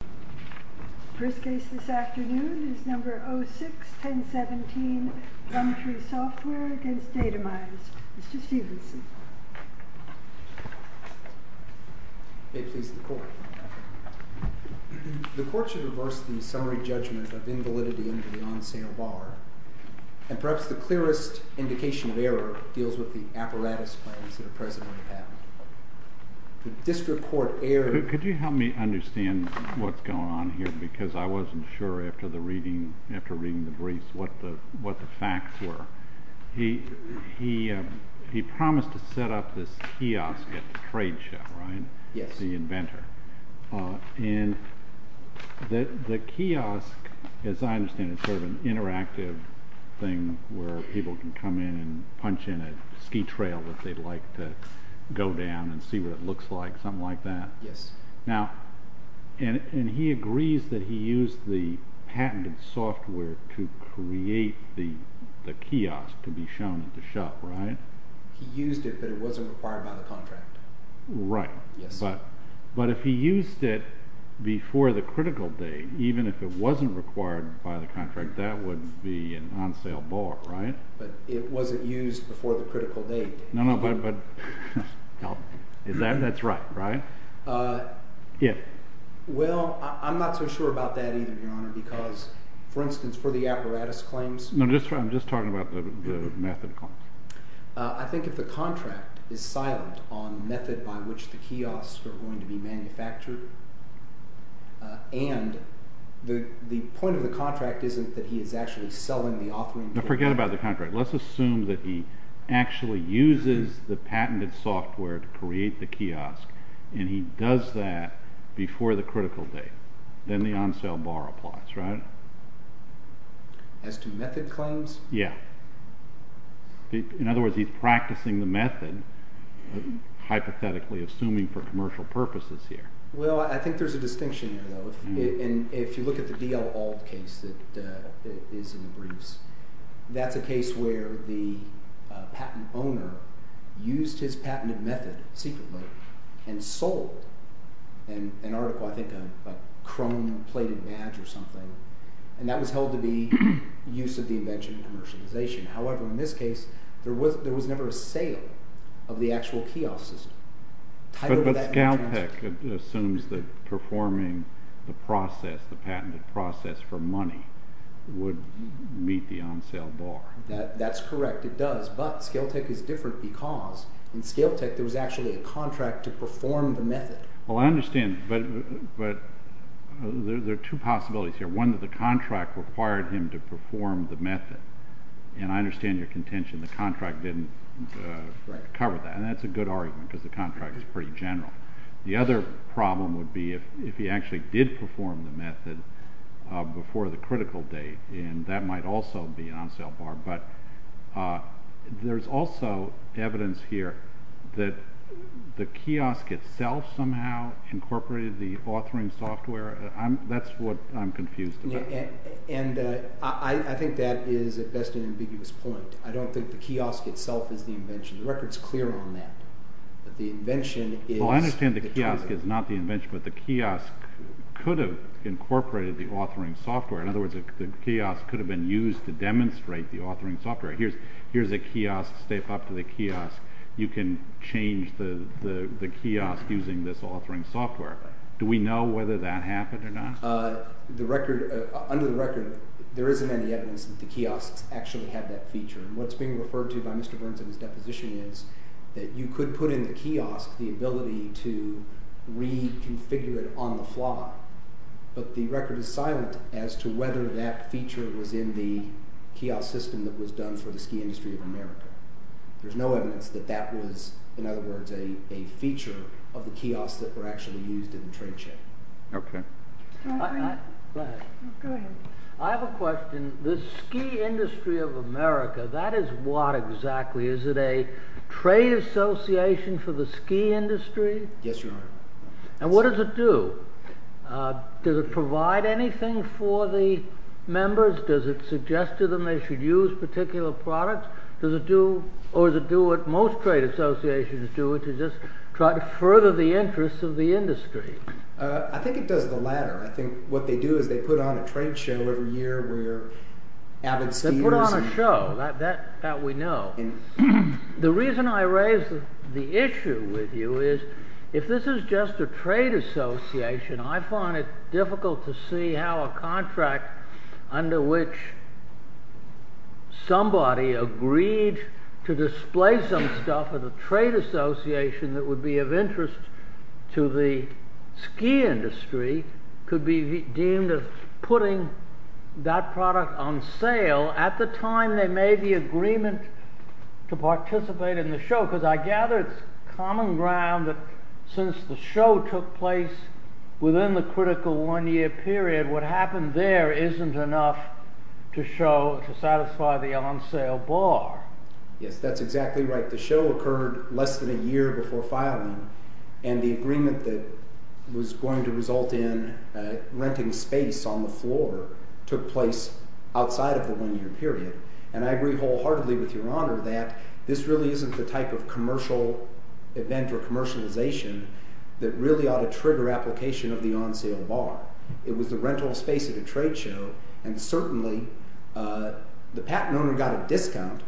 The first case this afternoon is No. 06-1017, Plumtree Software v. Datamize. Mr. Stevenson. May it please the Court. The Court should reverse the summary judgment of invalidity under the on-sale bar, and perhaps the clearest indication of error deals with the apparatus claims that are presently at hand. The District Court errs— Could you help me understand what's going on here? Because I wasn't sure after reading the briefs what the facts were. He promised to set up this kiosk at the trade show, right? Yes. The inventor. And the kiosk, as I understand it, is sort of an interactive thing where people can come in and punch in a ski trail that they'd like to go down and see what it looks like, something like that. Yes. And he agrees that he used the patented software to create the kiosk to be shown at the show, right? He used it, but it wasn't required by the contract. Right. Yes. But if he used it before the critical date, even if it wasn't required by the contract, that would be an on-sale bar, right? But it wasn't used before the critical date. No, no, but that's right, right? Yes. Well, I'm not so sure about that either, Your Honor, because, for instance, for the apparatus claims— No, I'm just talking about the method claims. I think if the contract is silent on the method by which the kiosks are going to be manufactured and the point of the contract isn't that he is actually selling the authoring— No, forget about the contract. Let's assume that he actually uses the patented software to create the kiosk, and he does that before the critical date. Then the on-sale bar applies, right? As to method claims? Yes. In other words, he's practicing the method, hypothetically, assuming for commercial purposes here. Well, I think there's a distinction there, though. If you look at the D.L. Auld case that is in the briefs, that's a case where the patent owner used his patented method secretly and sold an article, I think a chrome-plated badge or something, and that was held to be use of the invention in commercialization. However, in this case, there was never a sale of the actual kiosk system. But Scaltech assumes that performing the process, the patented process for money, would meet the on-sale bar. That's correct. It does. But Scaletech is different because in Scaletech there was actually a contract to perform the method. Well, I understand, but there are two possibilities here. One, that the contract required him to perform the method, and I understand your contention the contract didn't cover that. And that's a good argument because the contract is pretty general. The other problem would be if he actually did perform the method before the critical date, and that might also be an on-sale bar. But there's also evidence here that the kiosk itself somehow incorporated the authoring software. That's what I'm confused about. And I think that is, at best, an ambiguous point. I don't think the kiosk itself is the invention. The record is clear on that. The invention is the contract. Well, I understand the kiosk is not the invention, but the kiosk could have incorporated the authoring software. In other words, the kiosk could have been used to demonstrate the authoring software. Here's a kiosk, step up to the kiosk, you can change the kiosk using this authoring software. Do we know whether that happened or not? Under the record, there isn't any evidence that the kiosks actually have that feature. What's being referred to by Mr. Burns in his deposition is that you could put in the kiosk the ability to reconfigure it on the fly. But the record is silent as to whether that feature was in the kiosk system that was done for the ski industry of America. There's no evidence that that was, in other words, a feature of the kiosks that were actually used in the trade show. Go ahead. I have a question. The ski industry of America, that is what exactly? Is it a trade association for the ski industry? Yes, Your Honor. And what does it do? Does it provide anything for the members? Does it suggest to them they should use particular products? Or does it do what most trade associations do, which is just try to further the interests of the industry? I think it does the latter. I think what they do is they put on a trade show every year where avid skiers… They put on a show. That we know. The reason I raise the issue with you is if this is just a trade association, I find it difficult to see how a contract under which somebody agreed to display some stuff at a trade association that would be of interest to the ski industry could be deemed as putting that product on sale at the time there may be agreement to participate in the show. Because I gather it's common ground that since the show took place within the critical one-year period, what happened there isn't enough to show, to satisfy the on-sale bar. Yes, that's exactly right. The show occurred less than a year before filing, and the agreement that was going to result in renting space on the floor took place outside of the one-year period. And I agree wholeheartedly with Your Honor that this really isn't the type of commercial event or commercialization that really ought to trigger application of the on-sale bar. It was the rental space at a trade show, and certainly the patent owner got a discount,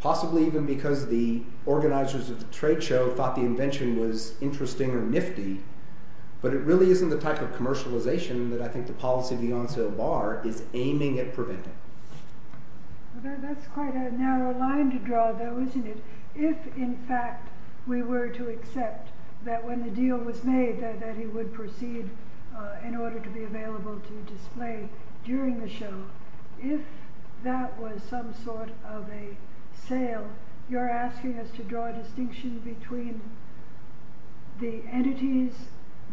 possibly even because the organizers of the trade show thought the invention was interesting or nifty. But it really isn't the type of commercialization that I think the policy of the on-sale bar is aiming at preventing. That's quite a narrow line to draw though, isn't it? If, in fact, we were to accept that when the deal was made that he would proceed in order to be available to display during the show, if that was some sort of a sale, you're asking us to draw a distinction between the entities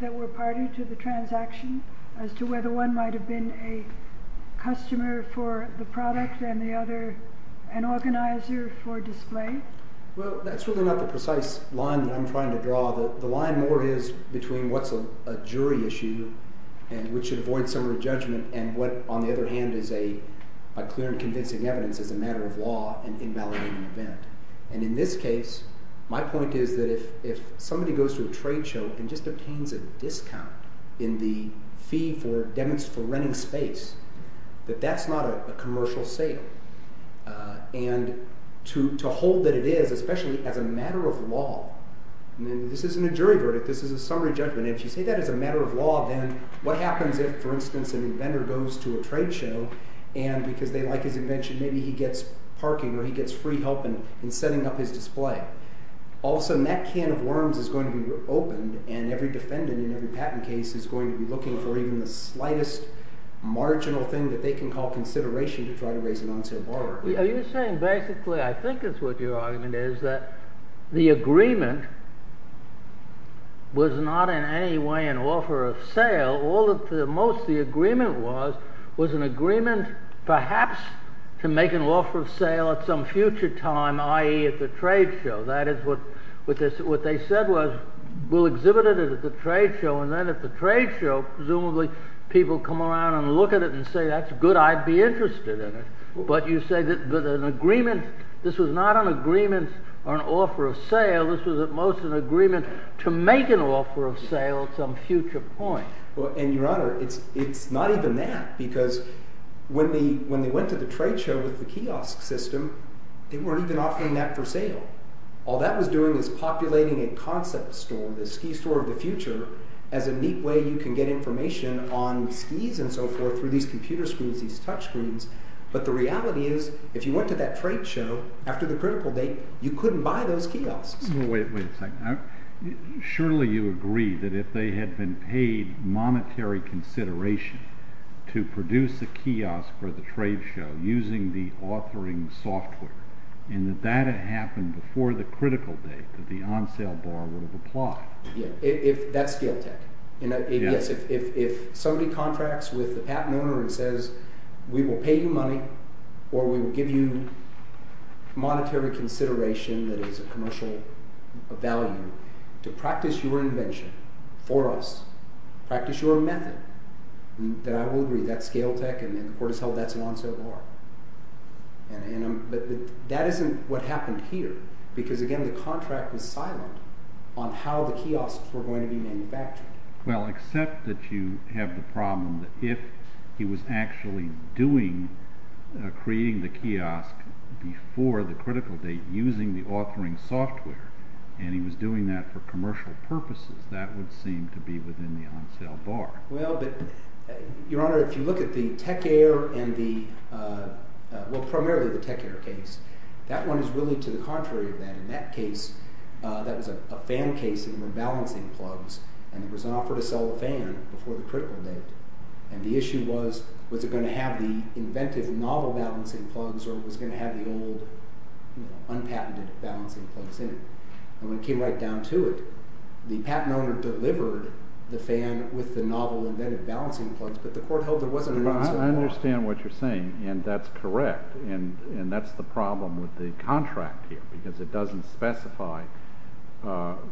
that were party to the transaction as to whether one might have been a customer for the product and the other an organizer for display? Well, that's really not the precise line that I'm trying to draw. The line more is between what's a jury issue, which should avoid summary judgment, and what, on the other hand, is a clear and convincing evidence as a matter of law in invalidating an event. And in this case, my point is that if somebody goes to a trade show and just obtains a discount in the fee for renting space, that that's not a commercial sale. And to hold that it is, especially as a matter of law, this isn't a jury verdict. This is a summary judgment. If you say that as a matter of law, then what happens if, for instance, an inventor goes to a trade show and because they like his invention, maybe he gets parking or he gets free help in setting up his display? All of a sudden, that can of worms is going to be opened, and every defendant in every patent case is going to be looking for even the slightest marginal thing that they can call consideration to try to raise a non-sale bar. Are you saying basically, I think is what your argument is, that the agreement was not in any way an offer of sale? All of the most the agreement was, was an agreement perhaps to make an offer of sale at some future time, i.e. at the trade show. That is what they said was, we'll exhibit it at the trade show, and then at the trade show, presumably, people come around and look at it and say, that's good, I'd be interested in it. But you say that an agreement, this was not an agreement or an offer of sale, this was at most an agreement to make an offer of sale at some future point. Well, and your honor, it's not even that because when they went to the trade show with the kiosk system, they weren't even offering that for sale. All that was doing was populating a concept store, the ski store of the future, as a neat way you can get information on skis and so forth through these computer screens, these touch screens. But the reality is, if you went to that trade show, after the critical date, you couldn't buy those kiosks. Wait a second. Surely you agree that if they had been paid monetary consideration to produce a kiosk for the trade show using the authoring software, and that that had happened before the critical date that the on-sale bar would have applied. That's scale tech. If somebody contracts with the patent owner and says, we will pay you money or we will give you monetary consideration that is a commercial value to practice your invention for us, practice your method, then I will agree that's scale tech and the court has held that's an on-sale bar. But that isn't what happened here because, again, the contract was silent on how the kiosks were going to be manufactured. Well, except that you have the problem that if he was actually doing, creating the kiosk before the critical date using the authoring software, and he was doing that for commercial purposes, that would seem to be within the on-sale bar. Well, but, Your Honor, if you look at the Tech Air and the, well, primarily the Tech Air case, that one is really to the contrary of that. In that case, that was a fan case in the balancing plugs, and there was an offer to sell the fan before the critical date. And the issue was, was it going to have the inventive novel balancing plugs or was it going to have the old, you know, unpatented balancing plugs in it? And when it came right down to it, the patent owner delivered the fan with the novel inventive balancing plugs, but the court held there wasn't an on-sale bar. I understand what you're saying, and that's correct, and that's the problem with the contract here because it doesn't specify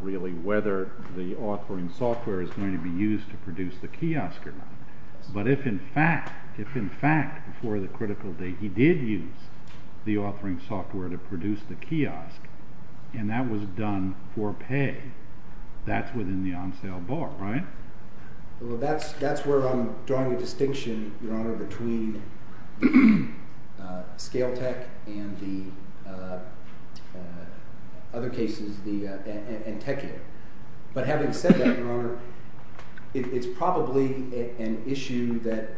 really whether the authoring software is going to be used to produce the kiosk or not. But if in fact, if in fact before the critical date he did use the authoring software to produce the kiosk and that was done for pay, that's within the on-sale bar, right? Well, that's where I'm drawing a distinction, Your Honor, between Scale Tech and the other cases, and Tech Air. But having said that, Your Honor, it's probably an issue that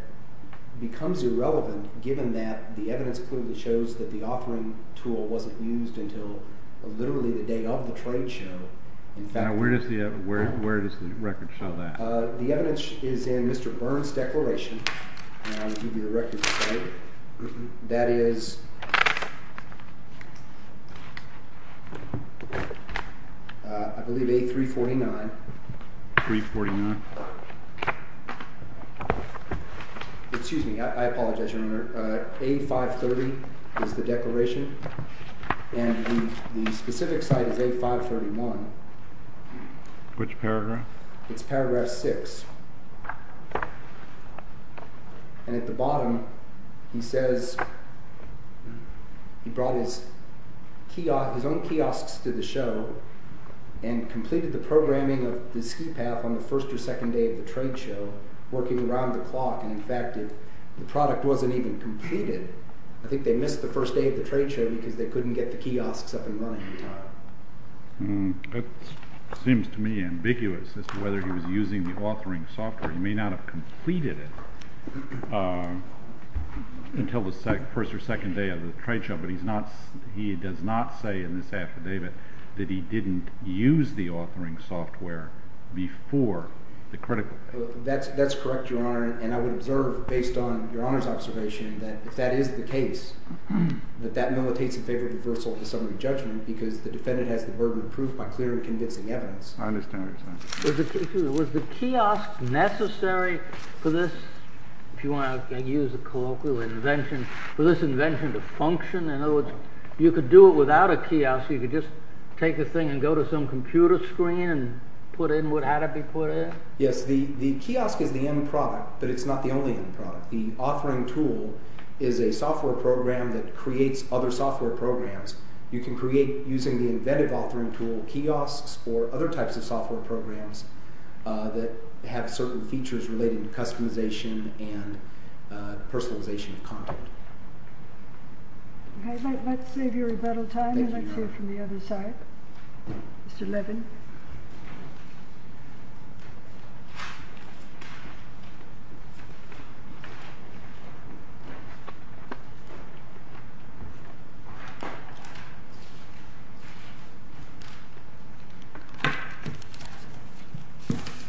becomes irrelevant given that the evidence clearly shows that the authoring tool wasn't used until literally the day of the trade show. Now, where does the record show that? The evidence is in Mr. Burns' declaration, and I'll give you the record for that. That is, I believe, A349. 349? Excuse me. I apologize, Your Honor. A530 is the declaration, and the specific site is A531. Which paragraph? It's paragraph 6. And at the bottom he says he brought his own kiosks to the show and completed the programming of the ski path on the first or second day of the trade show working around the clock. And in fact, the product wasn't even completed. I think they missed the first day of the trade show because they couldn't get the kiosks up and running in time. That seems to me ambiguous as to whether he was using the authoring software. He may not have completed it until the first or second day of the trade show, but he does not say in this affidavit that he didn't use the authoring software before the critical. That's correct, Your Honor, and I would observe, based on Your Honor's observation, that if that is the case, that that militates in favor of reversal of the summary judgment because the defendant has the burden of proof by clear and convincing evidence. I understand, Your Honor. Was the kiosk necessary for this, if you want to use a colloquial invention, for this invention to function? In other words, you could do it without a kiosk. You could just take a thing and go to some computer screen and put in what had to be put in? Yes, the kiosk is the end product, but it's not the only end product. The authoring tool is a software program that creates other software programs. You can create, using the inventive authoring tool, kiosks or other types of software programs that have certain features related to customization and personalization of content. Okay, let's save your rebuttal time and let's hear from the other side. Mr. Levin.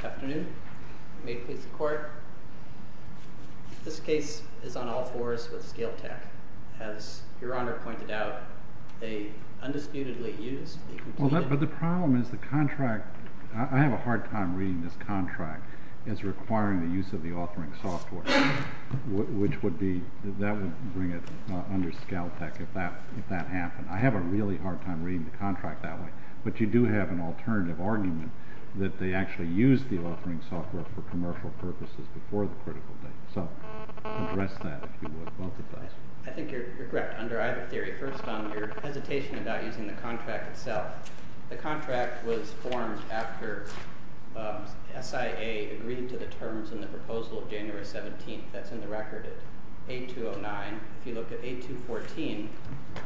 Afternoon. May it please the Court? This case is on all fours with scale tech. As Your Honor pointed out, they undisputedly used the computer. Well, but the problem is the contract – I have a hard time reading this contract as requiring the use of the authoring software, which would be – that would bring it under scale tech if that happened. I have a really hard time reading the contract that way, but you do have an alternative argument that they actually used the authoring software for commercial purposes before the critical date, so address that if you would, both of those. I think you're correct under either theory. First on your hesitation about using the contract itself. The contract was formed after SIA agreed to the terms in the proposal of January 17th. That's in the record at 8209. If you look at 8214,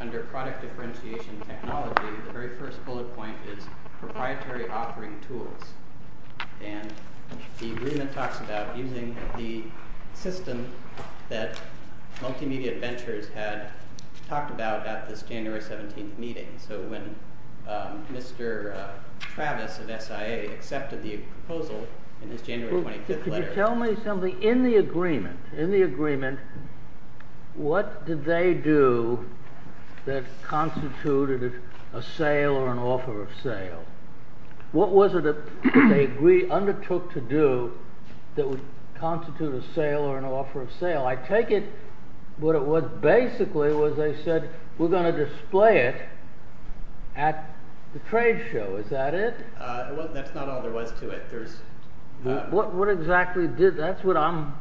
under product differentiation technology, the very first bullet point is proprietary authoring tools, and the agreement talks about using the system that Multimedia Ventures had talked about at this January 17th meeting. So when Mr. Travis of SIA accepted the proposal in his January 25th letter… What did they do that constituted a sale or an offer of sale? What was it that they undertook to do that would constitute a sale or an offer of sale? I take it what it was basically was they said, we're going to display it at the trade show. Is that it? Well, that's not all there was to it. What exactly did – that's what I'm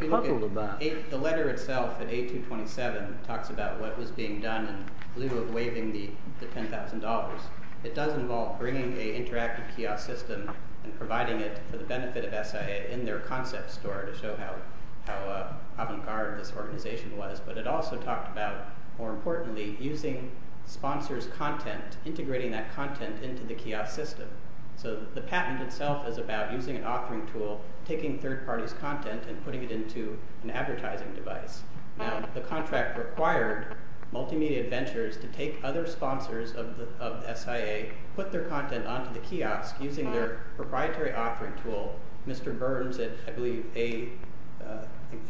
troubled about. The letter itself at 8227 talks about what was being done in lieu of waiving the $10,000. It does involve bringing an interactive kiosk system and providing it for the benefit of SIA in their concept store to show how avant-garde this organization was. But it also talked about, more importantly, using sponsors' content, integrating that content into the kiosk system. So the patent itself is about using an authoring tool, taking third parties' content and putting it into an advertising device. Now, the contract required Multimedia Ventures to take other sponsors of SIA, put their content onto the kiosk using their proprietary authoring tool. Mr. Burns at, I believe,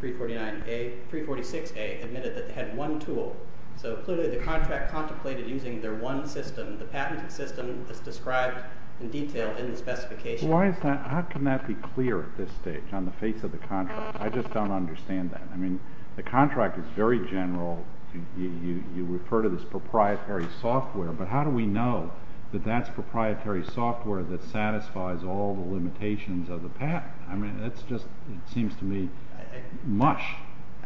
346A admitted that they had one tool. So clearly the contract contemplated using their one system. The patent system is described in detail in the specification. Why is that – how can that be clear at this stage on the face of the contract? I just don't understand that. I mean, the contract is very general. You refer to this proprietary software, but how do we know that that's proprietary software that satisfies all the limitations of the patent? I mean, that's just – it seems to me mush.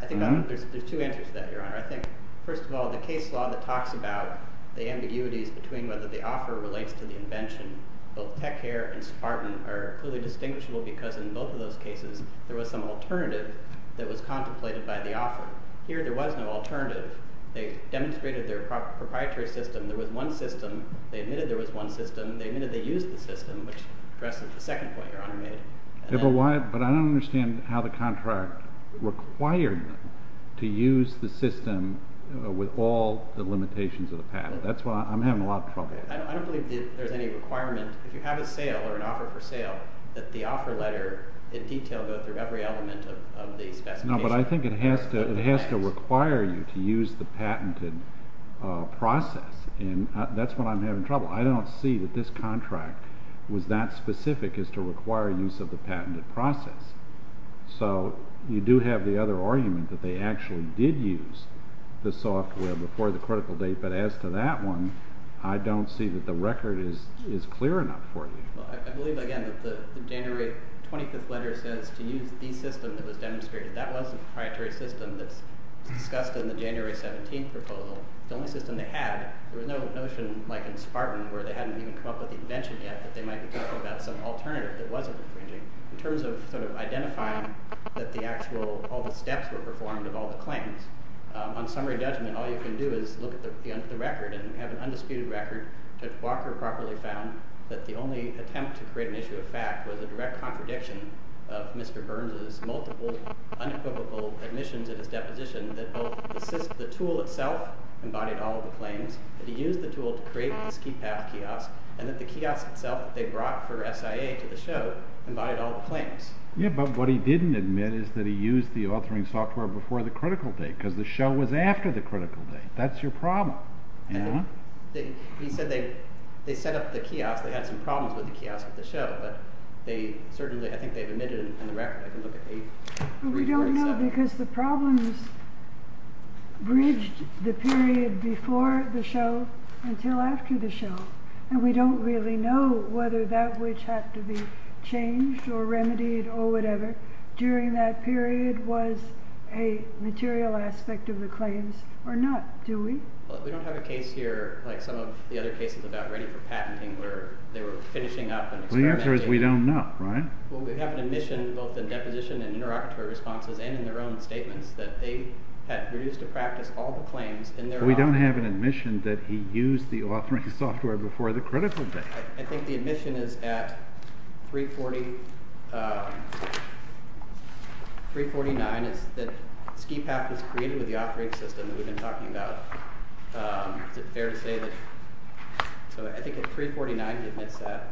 I think there's two answers to that, Your Honor. I think, first of all, the case law that talks about the ambiguities between whether the offer relates to the invention, both Techcare and Spartan, are clearly distinguishable because in both of those cases there was some alternative that was contemplated by the offer. Here there was no alternative. They demonstrated their proprietary system. There was one system. They admitted there was one system. They admitted they used the system, which addresses the second point Your Honor made. But I don't understand how the contract required them to use the system with all the limitations of the patent. That's why I'm having a lot of trouble. I don't believe there's any requirement. If you have a sale or an offer for sale, that the offer letter in detail go through every element of the specification. But I think it has to require you to use the patented process, and that's what I'm having trouble. I don't see that this contract was that specific as to require use of the patented process. So you do have the other argument that they actually did use the software before the critical date, but as to that one, I don't see that the record is clear enough for you. I believe again that the January 25th letter says to use the system that was demonstrated. That was a proprietary system that was discussed in the January 17th proposal. The only system they had, there was no notion like in Spartan where they hadn't even come up with the invention yet that they might be talking about some alternative that wasn't infringing. In terms of sort of identifying that the actual, all the steps were performed of all the claims, on summary judgment all you can do is look at the record and have an undisputed record that Walker properly found that the only attempt to create an issue of fact was a direct contradiction of Mr. Burns' multiple unequivocal admissions at his deposition that both the tool itself embodied all of the claims, that he used the tool to create the ski path kiosk, and that the kiosk itself that they brought for SIA to the show embodied all of the claims. Yeah, but what he didn't admit is that he used the authoring software before the critical date because the show was after the critical date. That's your problem. He said they set up the kiosk, they had some problems with the kiosk at the show, but they certainly, I think they've admitted it in the record. We don't know because the problems bridged the period before the show until after the show and we don't really know whether that which had to be changed or remedied or whatever during that period was a material aspect of the claims or not, do we? We don't have a case here like some of the other cases about ready for patenting where they were finishing up and experimenting. The answer is we don't know, right? Well, we have an admission both in deposition and interlocutory responses and in their own statements that they had reduced to practice all the claims in their own… But we don't have an admission that he used the authoring software before the critical date. I think the admission is at 3.49 is that Ski Path was created with the authoring system that we've been talking about. Is it fair to say that? So I think at 3.49 he admits that.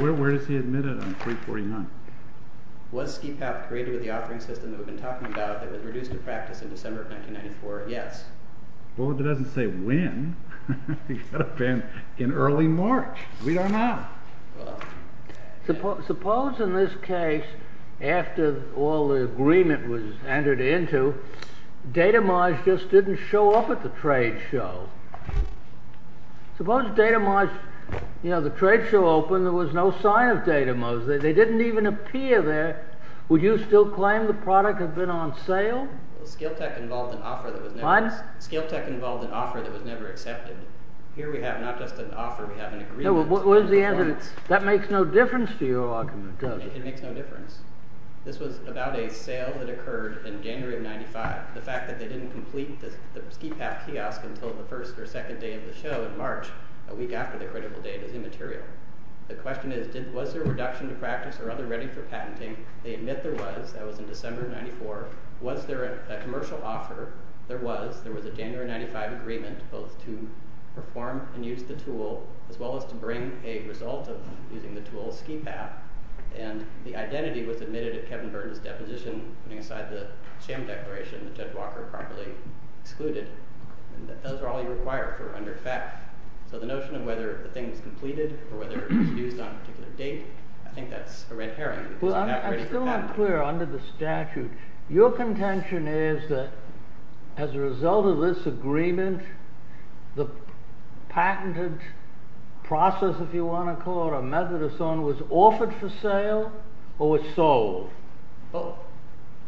Where does he admit it on 3.49? Was Ski Path created with the authoring system that we've been talking about that was reduced to practice in December of 1994? Yes. Well, it doesn't say when. It could have been in early March. We don't know. Suppose in this case, after all the agreement was entered into, Datamage just didn't show up at the trade show. Suppose Datamage, you know, the trade show opened, there was no sign of Datamage. They didn't even appear there. Would you still claim the product had been on sale? Skiltech involved an offer that was never accepted. Here we have not just an offer, we have an agreement. Where's the evidence? That makes no difference to your argument, does it? It makes no difference. This was about a sale that occurred in January of 1995. The fact that they didn't complete the Ski Path kiosk until the first or second day of the show in March, a week after the critical date, is immaterial. The question is, was there a reduction to practice or other ready for patenting? They admit there was. That was in December of 1994. Was there a commercial offer? There was. There was a January of 1995 agreement, both to perform and use the tool, as well as to bring a result of using the tool, Ski Path. And the identity was admitted at Kevin Burton's deposition, putting aside the sham declaration that Judge Walker promptly excluded. Those are all you require for under FAF. So the notion of whether the thing was completed or whether it was used on a particular date, I think that's a red herring. I'm still not clear under the statute. Your contention is that as a result of this agreement, the patented process, if you want to call it a method or so on, was offered for sale or was sold? Both.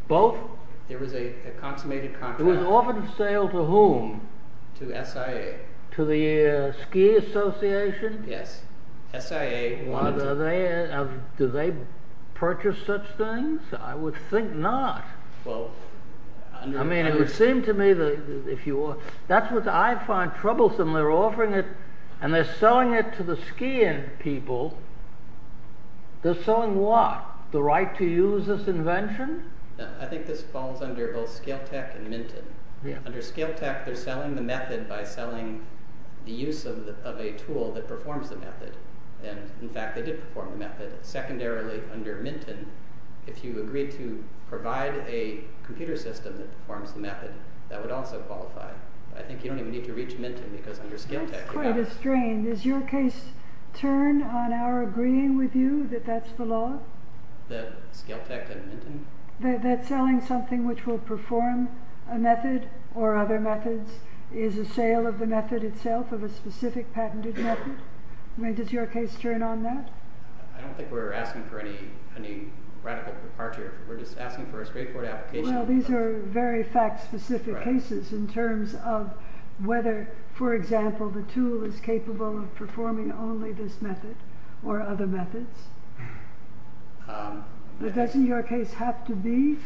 Both? There was a consummated contract. It was offered for sale to whom? To SIA. To the Ski Association? Yes. SIA wanted to... Do they purchase such things? I would think not. Well... I mean, it would seem to me that if you... That's what I find troublesome. They're offering it and they're selling it to the skiing people. They're selling what? The right to use this invention? I think this falls under both Scale Tech and Minton. Under Scale Tech, they're selling the method by selling the use of a tool that performs the method. And, in fact, they did perform the method. Secondarily, under Minton, if you agreed to provide a computer system that performs the method, that would also qualify. I think you don't even need to reach Minton because under Scale Tech... That's quite a strain. Does your case turn on our agreeing with you that that's the law? That Scale Tech and Minton? That selling something which will perform a method or other methods is a sale of the method itself, of a specific patented method? I mean, does your case turn on that? I don't think we're asking for any radical departure. We're just asking for a straightforward application. Well, these are very fact-specific cases in terms of whether, for example, the tool is capable of performing only this method or other methods. But doesn't your case have to be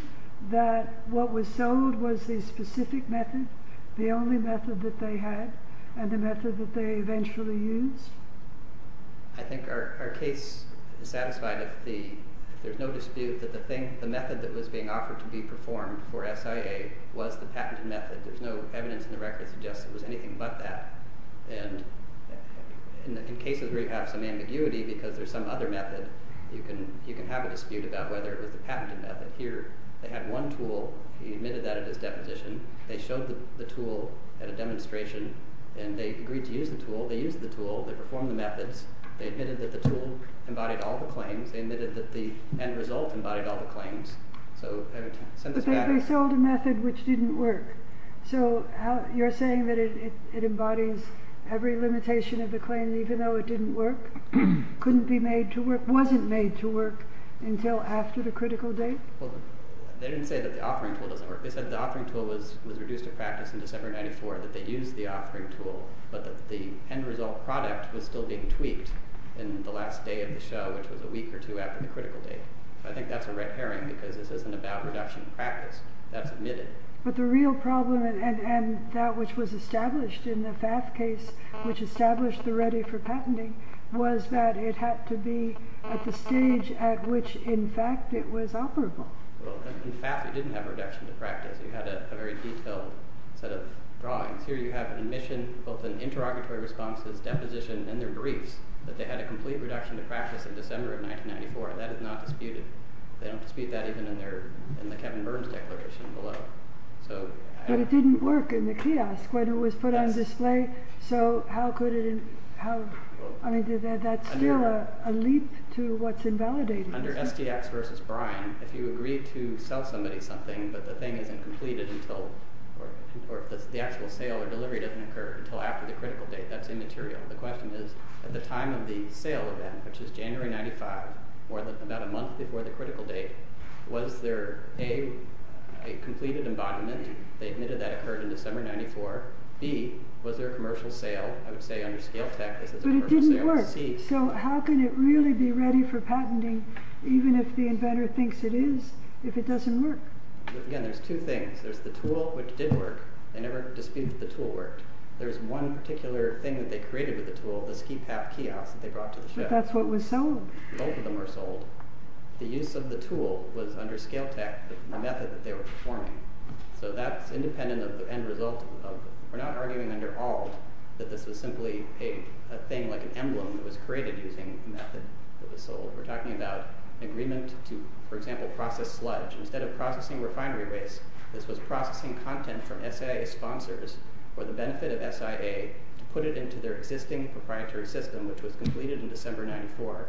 that what was sold was the specific method, the only method that they had, and the method that they eventually used? I think our case is satisfied if there's no dispute that the method that was being offered to be performed for SIA was the patented method. There's no evidence in the record that suggests it was anything but that. And in cases where you have some ambiguity because there's some other method, you can have a dispute about whether it was the patented method. Here, they had one tool. He admitted that at his deposition. They showed the tool at a demonstration, and they agreed to use the tool. They used the tool. They performed the methods. They admitted that the tool embodied all the claims. They admitted that the end result embodied all the claims. But they sold a method which didn't work. So you're saying that it embodies every limitation of the claim even though it didn't work, couldn't be made to work, wasn't made to work until after the critical date? Well, they didn't say that the offering tool doesn't work. They said the offering tool was reduced to practice in December of 1994, that they used the offering tool, but that the end result product was still being tweaked in the last day of the show, which was a week or two after the critical date. I think that's a red herring because this isn't about reduction in practice. That's admitted. But the real problem, and that which was established in the FAF case, which established the ready for patenting, was that it had to be at the stage at which, in fact, it was operable. Well, in fact, it didn't have reduction to practice. You had a very detailed set of drawings. Here you have an admission, both in interrogatory responses, deposition, and their briefs, that they had a complete reduction to practice in December of 1994. That is not disputed. They don't dispute that even in the Kevin Burns declaration below. But it didn't work in the kiosk when it was put on display, so how could it? I mean, that's still a leap to what's invalidated. Under STX v. Brine, if you agree to sell somebody something but the thing isn't completed or the actual sale or delivery doesn't occur until after the critical date, that's immaterial. The question is, at the time of the sale event, which is January 1995, about a month before the critical date, was there, A, a completed embodiment? They admitted that occurred in December 1994. B, was there a commercial sale? I would say under Scale Tech, this is a commercial sale. But it didn't work. So how can it really be ready for patenting, even if the inventor thinks it is, if it doesn't work? Again, there's two things. There's the tool, which did work. They never disputed that the tool worked. There's one particular thing that they created with the tool, the ski path kiosk that they brought to the show. But that's what was sold. Both of them were sold. The use of the tool was under Scale Tech, the method that they were performing. So that's independent of the end result. We're not arguing under Alt that this was simply a thing like an emblem that was created using the method that was sold. We're talking about an agreement to, for example, process sludge. Instead of processing refinery waste, this was processing content from SIA sponsors for the benefit of SIA to put it into their existing proprietary system, which was completed in December 1994.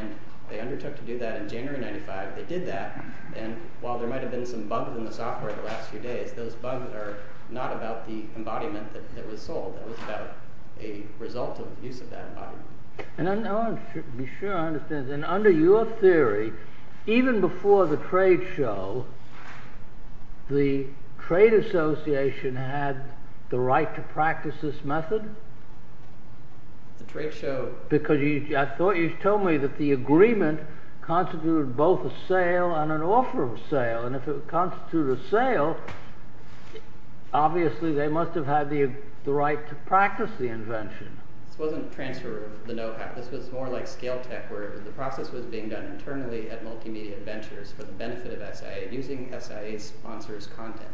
And they undertook to do that in January 1995. They did that. And while there might have been some bugs in the software the last few days, those bugs are not about the embodiment that was sold. It was about a result of the use of that embodiment. And I want to be sure I understand this. And under your theory, even before the trade show, the trade association had the right to practice this method? The trade show? Because I thought you told me that the agreement constituted both a sale and an offer of sale. And if it would constitute a sale, obviously they must have had the right to practice the invention. This wasn't a transfer of the know-how. This was more like Scale Tech, where the process was being done internally at Multimedia Ventures for the benefit of SIA, using SIA sponsors' content.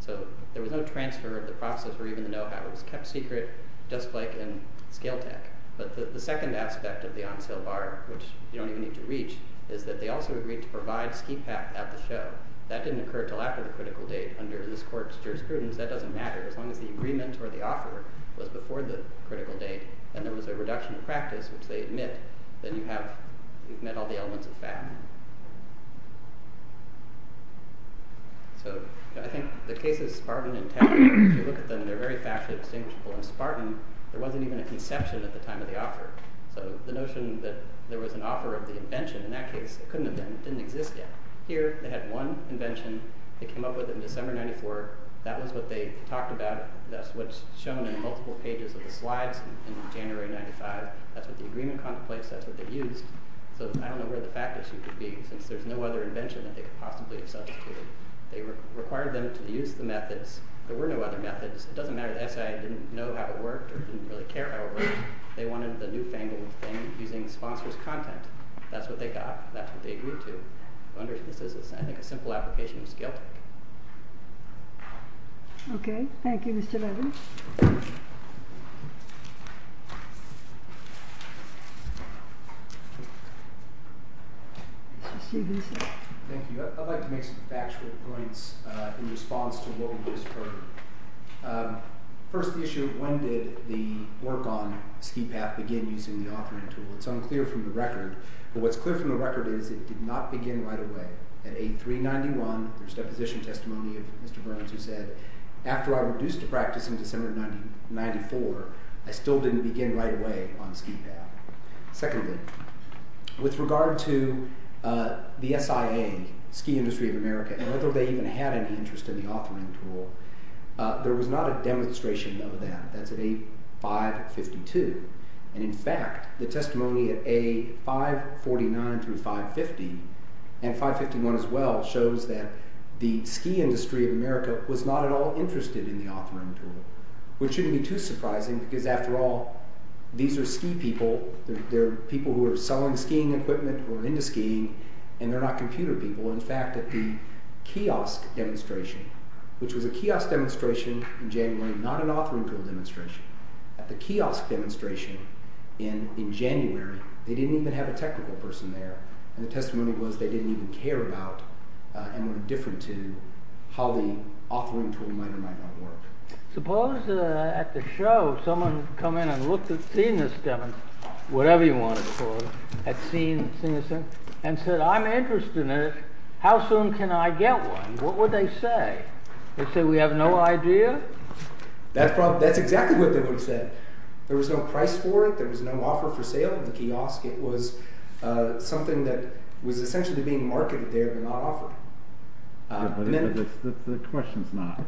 So there was no transfer of the process or even the know-how. It was kept secret, just like in Scale Tech. But the second aspect of the on-sale bar, which you don't even need to reach, is that they also agreed to provide ski pack at the show. That didn't occur until after the critical date under this court's jurisprudence. That doesn't matter. As long as the agreement or the offer was before the critical date and there was a reduction of practice, which they admit, then you've met all the elements of fat. So I think the case of Spartan and Taggart, if you look at them, they're very factually distinguishable. In Spartan, there wasn't even a conception at the time of the offer. So the notion that there was an offer of the invention in that case couldn't have been. It didn't exist yet. Here, they had one invention. They came up with it in December of 94. That was what they talked about. That's what's shown in multiple pages of the slides in January of 95. That's what the agreement contemplates. That's what they used. So I don't know where the fact issue could be, since there's no other invention that they could possibly have substituted. They required them to use the methods. There were no other methods. It doesn't matter that SIA didn't know how it worked or didn't really care how it worked. They wanted the newfangled thing using sponsor's content. That's what they got. That's what they agreed to. I think a simple application is guilty. Okay. Thank you, Mr. Levin. Thank you. I'd like to make some factual points in response to what we just heard. First, the issue of when did the work on Ski Path begin using the authoring tool. It's unclear from the record. But what's clear from the record is it did not begin right away. At 8-3-91, there's deposition testimony of Mr. Burns who said, After I reduced to practice in December of 94, I still didn't begin right away on Ski Path. Secondly, with regard to the SIA, Ski Industry of America, and whether they even had any interest in the authoring tool, there was not a demonstration of that. That's at 8-5-52. And, in fact, the testimony at 8-5-49 through 5-50 and 5-51 as well shows that the Ski Industry of America was not at all interested in the authoring tool, which shouldn't be too surprising because, after all, these are ski people. They're people who are selling skiing equipment or are into skiing, and they're not computer people. In fact, at the kiosk demonstration, which was a kiosk demonstration in January, not an authoring tool demonstration. At the kiosk demonstration in January, they didn't even have a technical person there. And the testimony was they didn't even care about and were indifferent to how the authoring tool might or might not work. Suppose at the show someone had come in and seen this demonstration, whatever you want to call it, and said, I'm interested in it. How soon can I get one? What would they say? They'd say, we have no idea. That's exactly what they would have said. There was no price for it. There was no offer for sale at the kiosk. It was something that was essentially being marketed there but not offered. The question is not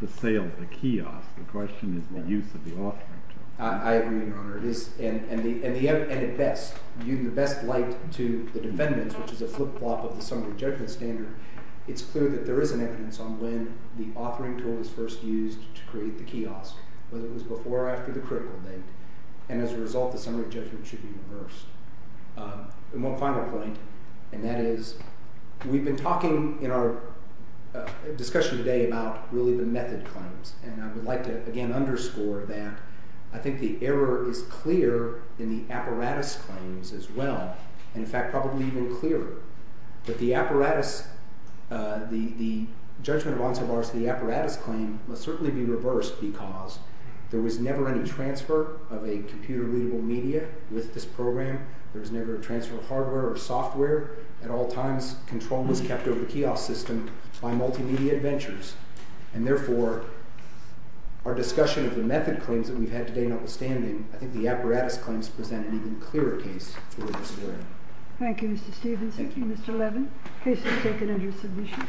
the sale at the kiosk. The question is the use of the authoring tool. I agree, Your Honor. And at best, in the best light to the defendants, which is a flip-flop of the summary judgment standard, it's clear that there is an evidence on when the authoring tool was first used to create the kiosk, whether it was before or after the critical date. And one final point, and that is we've been talking in our discussion today about really the method claims, and I would like to again underscore that. I think the error is clear in the apparatus claims as well, and in fact probably even clearer. But the apparatus, the judgment of Ansel Varsity apparatus claim must certainly be reversed because there was never any transfer of a computer-readable media with this program. There was never a transfer of hardware or software. At all times, control was kept over the kiosk system by multimedia adventures, and therefore our discussion of the method claims that we've had today, notwithstanding, I think the apparatus claims present an even clearer case for this error. Thank you, Mr. Stephenson. Thank you, Mr. Levin. The case is taken under submission. Thank you.